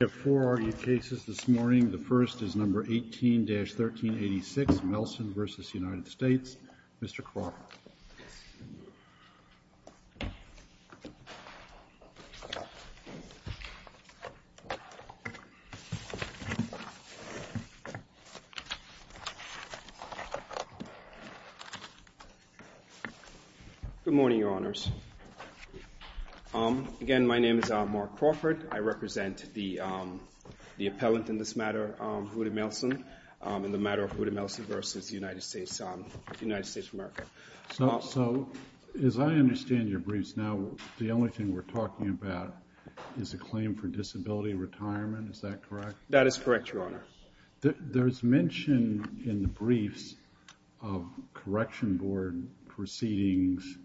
We have four argued cases this morning. The first is No. 18-1386, Melson v. United States. Mr. Crawford. Again, my name is Mark Crawford. I represent the appellant in this matter, Huda Melson, in the matter of Huda Melson v. United States of America. So, as I understand your briefs now, the only thing we're talking about is a claim for disability retirement, is that correct? That is correct, Your Honor. There's mention in the briefs of correction board proceedings,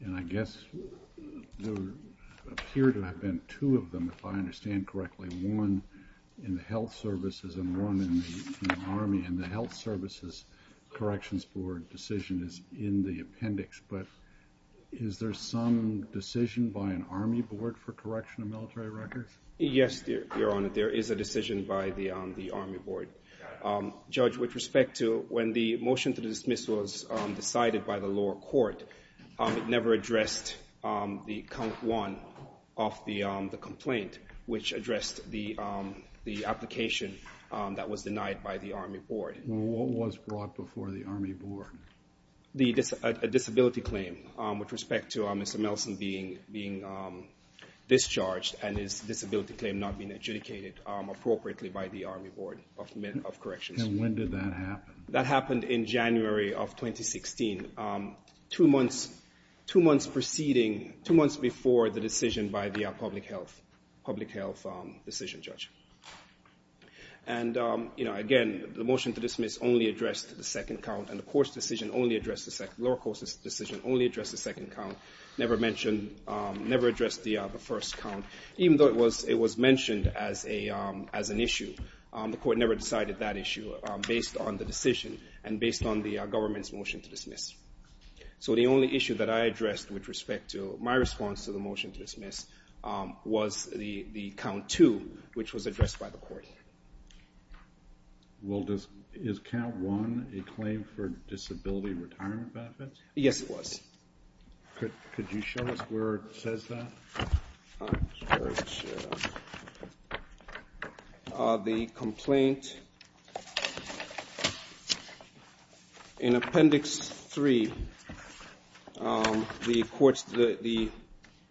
and I guess there appear to have been two of them, if I understand correctly. One in the Health Services and one in the Army, and the Health Services Corrections Board decision is in the appendix. But is there some decision by an Army board for correction of military records? Yes, Your Honor. There is a decision by the Army board. Judge, with respect to when the motion to dismiss was decided by the lower court, it never addressed the count one of the complaint, which addressed the application that was denied by the Army board. What was brought before the Army board? A disability claim with respect to Mr. Melson being discharged and his disability claim not being adjudicated appropriately by the Army board of corrections. And when did that happen? That happened in January of 2016, two months preceding, two months before the decision by the public health decision judge. And again, the motion to dismiss only addressed the second count, and the lower court's decision only addressed the second count, never addressed the first count, even though it was mentioned as an issue. The court never decided that issue based on the decision and based on the government's motion to dismiss. So the only issue that I addressed with respect to my response to the motion to dismiss was the count two, which was addressed by the court. Well, is count one a claim for disability retirement benefits? Yes, it was. Could you show us where it says that? Sure. The complaint in appendix three, even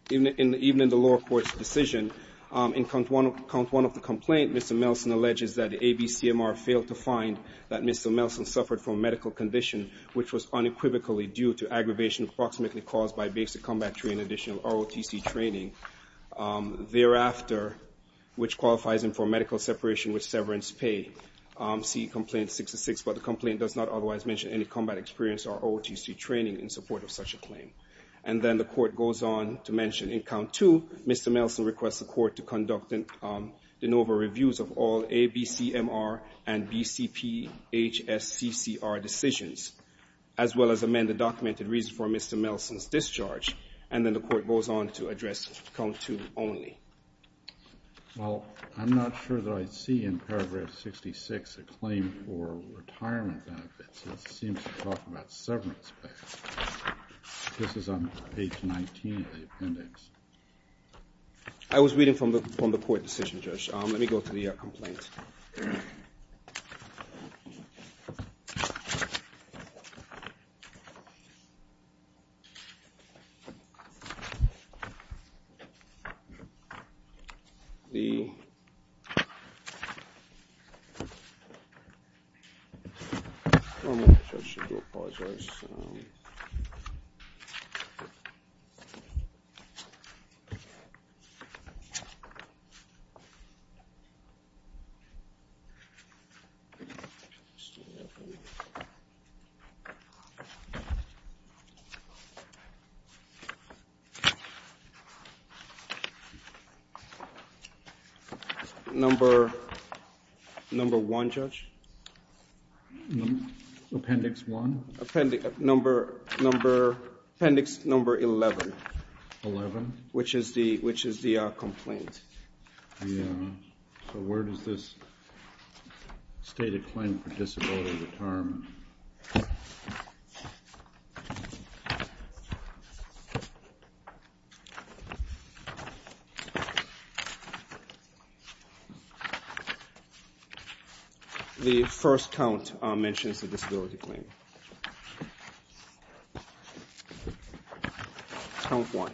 in the lower court's decision, in count one of the complaint, Mr. Melson alleges that ABCMR failed to find that Mr. Melson suffered from a medical condition, which was unequivocally due to aggravation approximately caused by basic combat training, additional ROTC training. Thereafter, which qualifies him for medical separation with severance pay, see complaint 66. But the complaint does not otherwise mention any combat experience or ROTC training in support of such a claim. And then the court goes on to mention in count two, Mr. Melson requests the court to conduct de novo reviews of all ABCMR and BCPHSCCR decisions, as well as amend the documented reason for Mr. Melson's discharge. And then the court goes on to address count two only. Well, I'm not sure that I see in paragraph 66 a claim for retirement benefits. It seems to talk about severance pay. This is on page 19 of the appendix. I was reading from the court decision, Judge. Let me go to the complaint. Okay. The judge should go apologize. Number one, Judge. Appendix one. Appendix number 11. 11? Which is the complaint. Yeah. So where does this state a claim for disability retirement? The first count mentions a disability claim. Count one.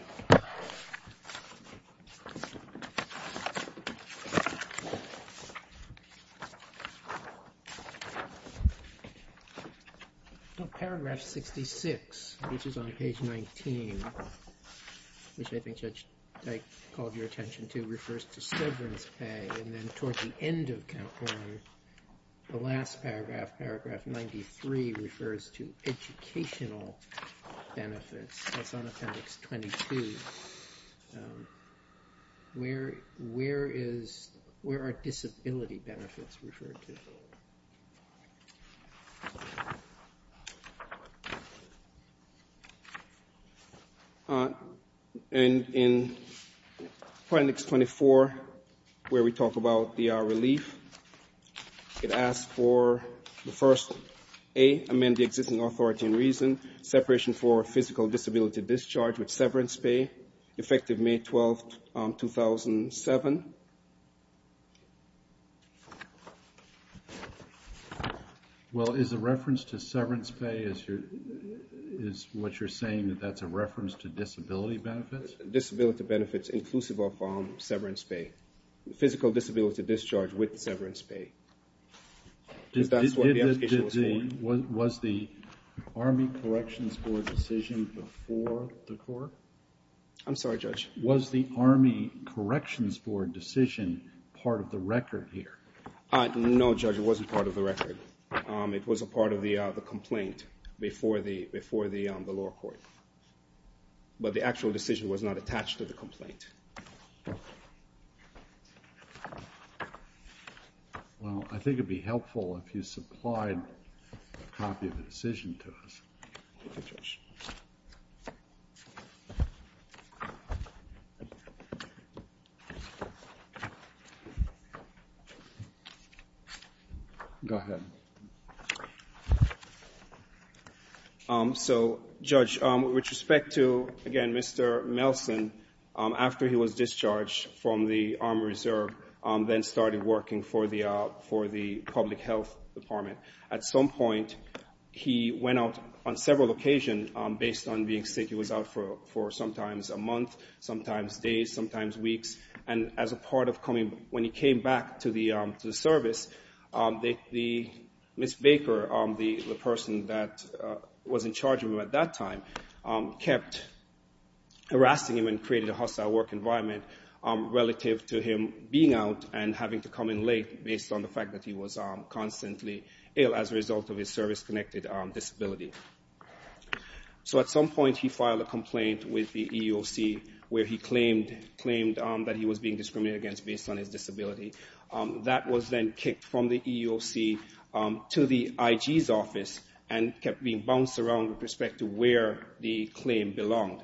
Paragraph 66, which is on page 19, which I think Judge Dyke called your attention to, refers to severance pay. And then toward the end of count one, the last paragraph, paragraph 93, refers to educational benefits. That's on appendix 22. Where are disability benefits referred to? And in appendix 24, where we talk about the relief, it asks for the first, A, amend the existing authority and reason, separation for physical disability discharge with severance pay, effective May 12, 2007. Well, is the reference to severance pay, is what you're saying that that's a reference to disability benefits? Disability benefits inclusive of severance pay. Physical disability discharge with severance pay. Was the Army Corrections Board decision before the court? I'm sorry, Judge. Was the Army Corrections Board decision part of the record here? No, Judge, it wasn't part of the record. It was a part of the complaint before the lower court. But the actual decision was not attached to the complaint. Well, I think it would be helpful if you supplied a copy of the decision to us. Go ahead. So, Judge, with respect to, again, Mr. Nelson, after he was discharged from the Army Reserve, then started working for the public health department. At some point, he went out on several occasions based on being sick. He was out for sometimes a month, sometimes days, sometimes weeks. And as a part of coming, when he came back to the service, Ms. Baker, the person that was in charge of him at that time, kept harassing him and created a hostile work environment relative to him being out and having to come in late based on the fact that he was constantly ill as a result of his service-connected disability. So at some point, he filed a complaint with the EEOC where he claimed that he was being discriminated against based on his disability. That was then kicked from the EEOC to the IG's office and kept being bounced around with respect to where the claim belonged.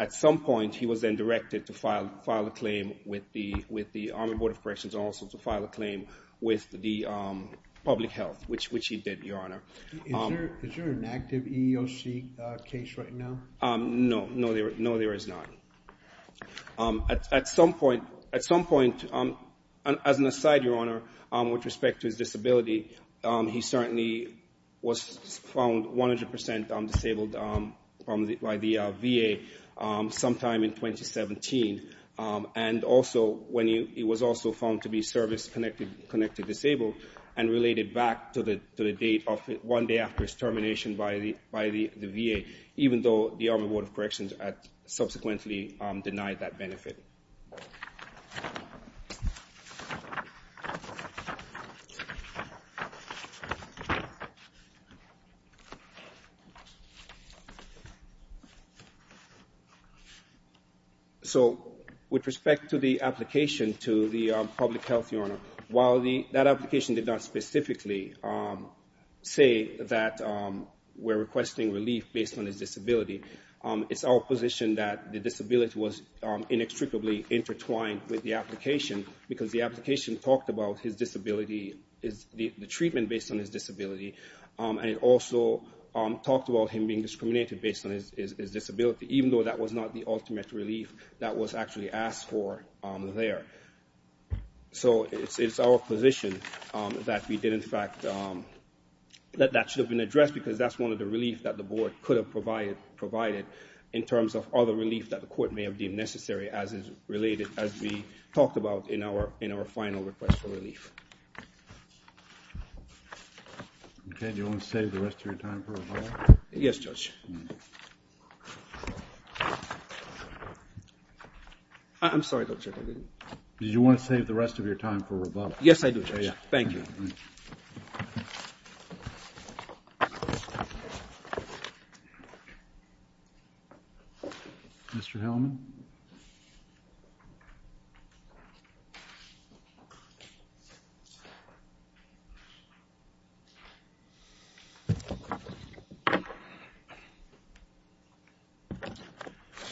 At some point, he was then directed to file a claim with the Army Board of Corrections and also to file a claim with the public health, which he did, Your Honor. Is there an active EEOC case right now? No, there is not. At some point, as an aside, Your Honor, with respect to his disability, he certainly was found 100% disabled by the VA sometime in 2017. It was also found to be service-connected disabled and related back to the date of one day after his termination by the VA, even though the Army Board of Corrections subsequently denied that benefit. So, with respect to the application to the public health, Your Honor, while that application did not specifically say that we're requesting relief based on his disability, it's our position that the disability was inextricably linked to his disability. It was inextricably intertwined with the application because the application talked about his disability, the treatment based on his disability, and it also talked about him being discriminated based on his disability, even though that was not the ultimate relief that was actually asked for there. So it's our position that that should have been addressed because that's one of the reliefs that the board could have provided in terms of other relief that the court may have deemed necessary as is related, as we talked about in our final request for relief. Okay. Do you want to save the rest of your time for rebuttal? Yes, Judge. I'm sorry, Judge. Did you want to save the rest of your time for rebuttal? Yes, I do, Judge. Thank you. Mr. Hellman?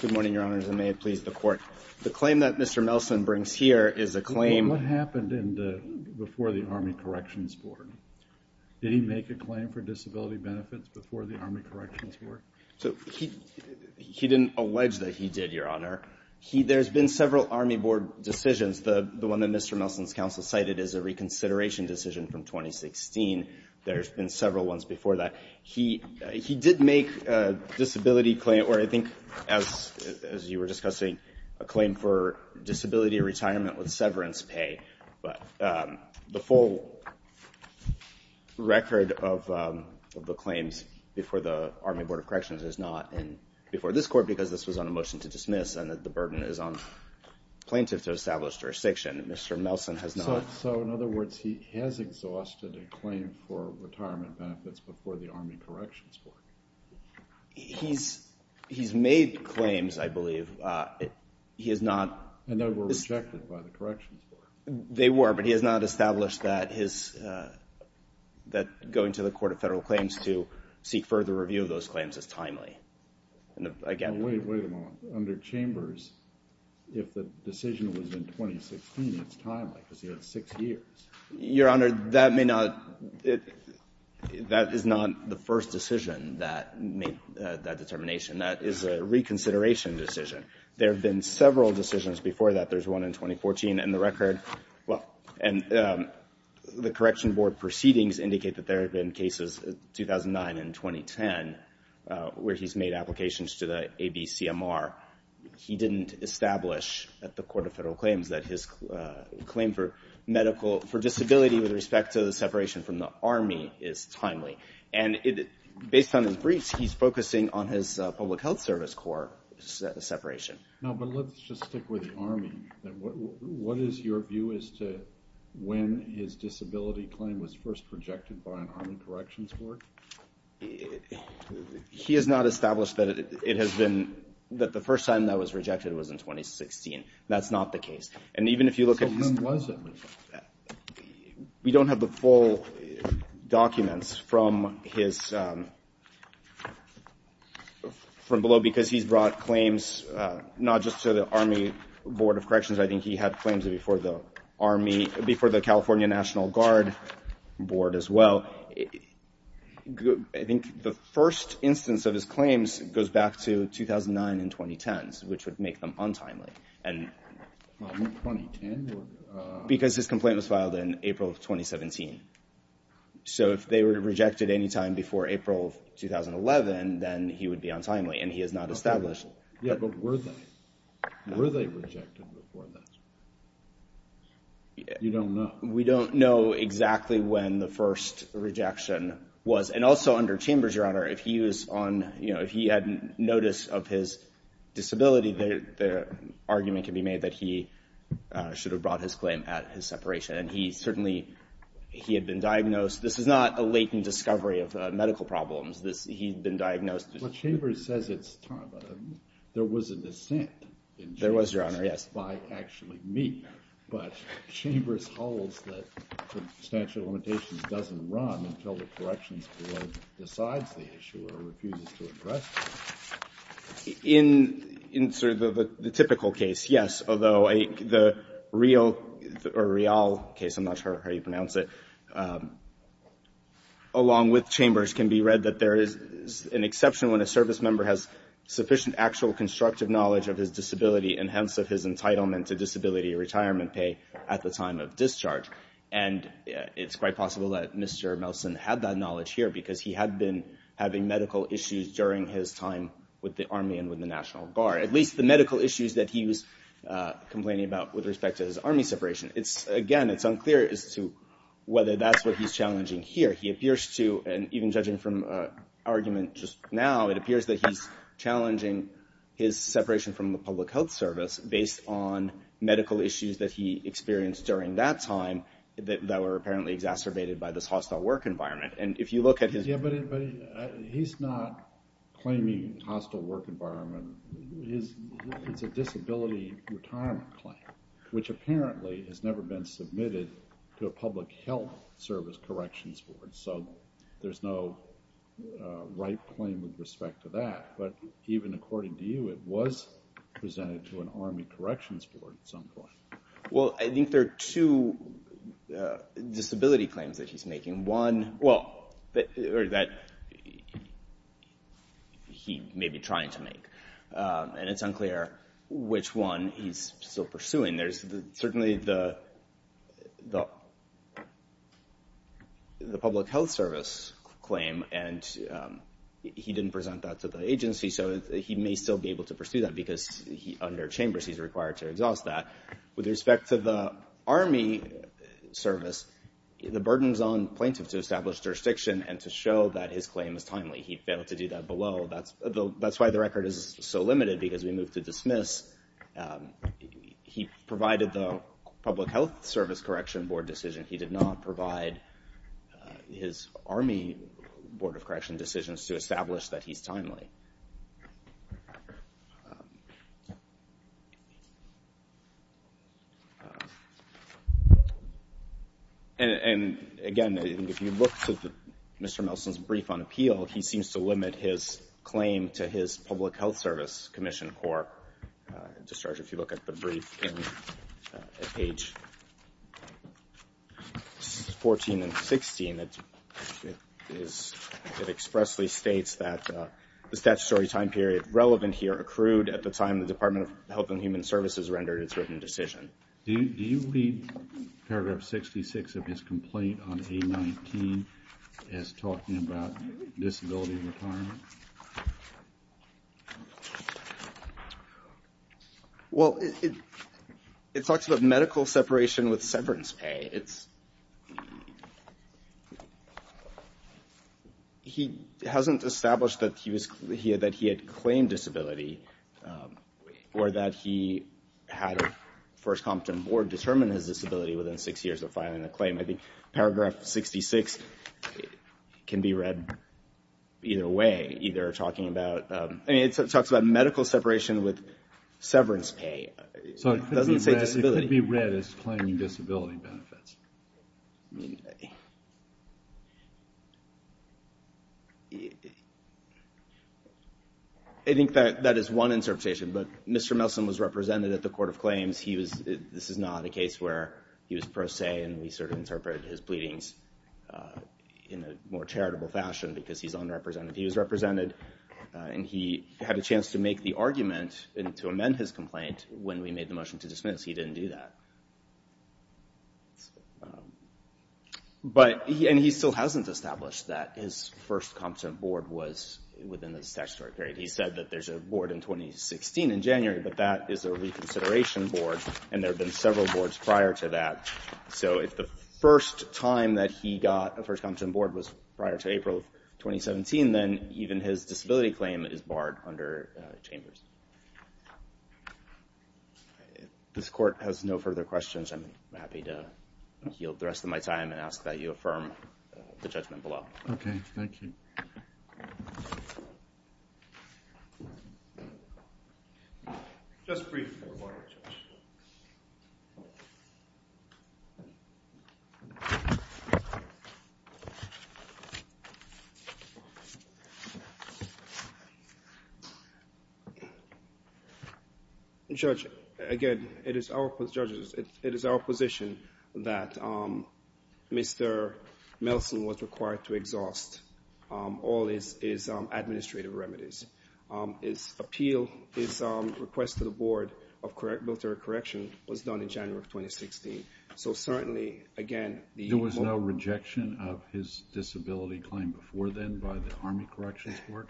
Good morning, Your Honors, and may it please the Court. The claim that Mr. Nelson brings here is a claim on what happened before the Army Corrections Board. Did he make a claim for disability benefits before the Army Corrections Board? He didn't allege that he did, Your Honor. There's been several Army Board decisions. The one that Mr. Nelson's counsel cited is a reconsideration decision from 2016. There's been several ones before that. He did make a disability claim, or I think, as you were discussing, a claim for disability retirement with severance pay, but the full record of the claims before the Army Board of Corrections is not before this Court because this was on a motion to dismiss and that the burden is on plaintiffs to establish jurisdiction. Mr. Nelson has not. So, in other words, he has exhausted a claim for retirement benefits before the Army Corrections Board. He's made claims, I believe. He has not. And they were rejected by the Corrections Board. They were, but he has not established that going to the Court of Federal Claims to seek further review of those claims is timely. Wait a moment. Under Chambers, if the decision was in 2016, it's timely because he had six years. Your Honor, that may not, that is not the first decision that made that determination. That is a reconsideration decision. There have been several decisions before that. There's one in 2014, and the record, well, and the Correction Board proceedings indicate that there have been cases in 2009 and 2010 where he's made applications to the ABCMR. He didn't establish at the Court of Federal Claims that his claim for disability with respect to the separation from the Army is timely. And based on his briefs, he's focusing on his Public Health Service Corps separation. No, but let's just stick with the Army. What is your view as to when his disability claim was first rejected by an Army Corrections Board? He has not established that it has been, that the first time that was rejected was in 2016. That's not the case. So when was it? We don't have the full documents from his, from below, because he's brought claims not just to the Army Board of Corrections. I think he had claims before the Army, before the California National Guard Board as well. I think the first instance of his claims goes back to 2009 and 2010, which would make them untimely. Because his complaint was filed in April of 2017. So if they were rejected any time before April of 2011, then he would be untimely, and he has not established. Yeah, but were they? Were they rejected before that? You don't know. We don't know exactly when the first rejection was. And also under Chambers, Your Honor, if he was on, you know, if he had notice of his disability, the argument can be made that he should have brought his claim at his separation. And he certainly, he had been diagnosed. This is not a latent discovery of medical problems. He had been diagnosed. Well, Chambers says it's time. There was a dissent in Chambers. There was, Your Honor, yes. By actually me. But Chambers holds that the statute of limitations doesn't run until the corrections board decides the issue or refuses to address it. In sort of the typical case, yes. Although the Rial case, I'm not sure how you pronounce it, along with Chambers can be read that there is an exception when a service member has sufficient actual constructive knowledge of his disability and hence of his entitlement to disability retirement pay at the time of discharge. And it's quite possible that Mr. Melson had that knowledge here because he had been having medical issues during his time with the Army and with the National Guard, at least the medical issues that he was complaining about with respect to his Army separation. Again, it's unclear as to whether that's what he's challenging here. He appears to, and even judging from argument just now, it appears that he's challenging his separation from the public health service based on medical issues that he experienced during that time that were apparently exacerbated by this hostile work environment. And if you look at his... Yeah, but he's not claiming hostile work environment. It's a disability retirement claim, which apparently has never been submitted to a public health service corrections board. So there's no right claim with respect to that. But even according to you, it was presented to an Army corrections board at some point. Well, I think there are two disability claims that he's making. Well, or that he may be trying to make, and it's unclear which one he's still pursuing. There's certainly the public health service claim, and he didn't present that to the agency, so he may still be able to pursue that because under chambers he's required to exhaust that. With respect to the Army service, the burden's on plaintiffs to establish jurisdiction and to show that his claim is timely. He failed to do that below. That's why the record is so limited because we moved to dismiss. He provided the public health service correction board decision. He did not provide his Army board of correction decisions to establish that he's timely. And, again, if you look to Mr. Melson's brief on appeal, he seems to limit his claim to his public health service commission court discharge. If you look at the brief at page 14 and 16, it expressly states that the statutory time period relevant here accrued at the time of helping human services rendered its written decision. Do you read paragraph 66 of his complaint on A-19 as talking about disability retirement? Well, it talks about medical separation with severance pay. He hasn't established that he had claimed disability or that he had a first competent board determine his disability within six years of filing a claim. I think paragraph 66 can be read either way, either talking about medical separation with severance pay. It doesn't say disability. It could be read as claiming disability benefits. I think that is one interpretation, but Mr. Melson was represented at the court of claims. This is not a case where he was pro se, and we sort of interpreted his pleadings in a more charitable fashion because he's unrepresented. He was represented, and he had a chance to make the argument and to amend his complaint when we made the motion to dismiss. He didn't do that. And he still hasn't established that his first competent board was within the statutory period. He said that there's a board in 2016 in January, but that is a reconsideration board, and there have been several boards prior to that. So if the first time that he got a first competent board was prior to April of 2017, then even his disability claim is barred under Chambers. If this court has no further questions, I'm happy to yield the rest of my time and ask that you affirm the judgment below. Okay. Thank you. Just brief. Thank you, Your Honor. Judge, again, it is our position that Mr. Melson was required to exhaust all his administrative remedies. His appeal, his request to the Board of Military Correction was done in January of 2016. So certainly, again, the board... There was no rejection of his disability claim before then by the Army Corrections Board?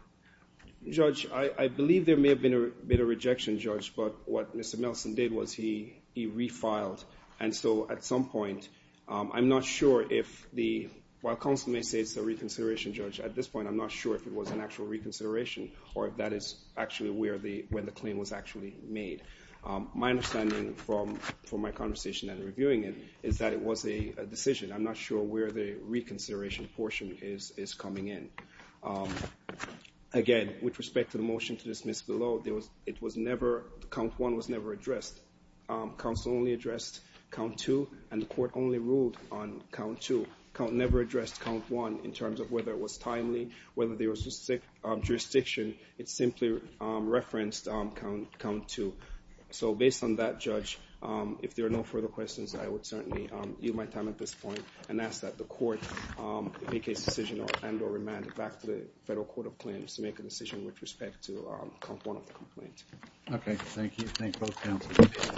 Judge, I believe there may have been a bit of rejection, Judge, but what Mr. Melson did was he refiled. And so at some point, I'm not sure if the... While counsel may say it's a reconsideration, Judge, at this point, I'm not sure if it was an actual reconsideration or if that is actually where the claim was actually made. My understanding from my conversation and reviewing it is that it was a decision. I'm not sure where the reconsideration portion is coming in. Again, with respect to the motion to dismiss below, it was never... Count one was never addressed. Counsel only addressed count two, and the court only ruled on count two. Count never addressed count one in terms of whether it was timely, whether there was jurisdiction. It simply referenced count two. So based on that, Judge, if there are no further questions, I would certainly yield my time at this point and ask that the court make a decision and or remand it back to the Federal Court of Claims to make a decision with respect to count one of the complaints. Okay, thank you. Thank both counsels.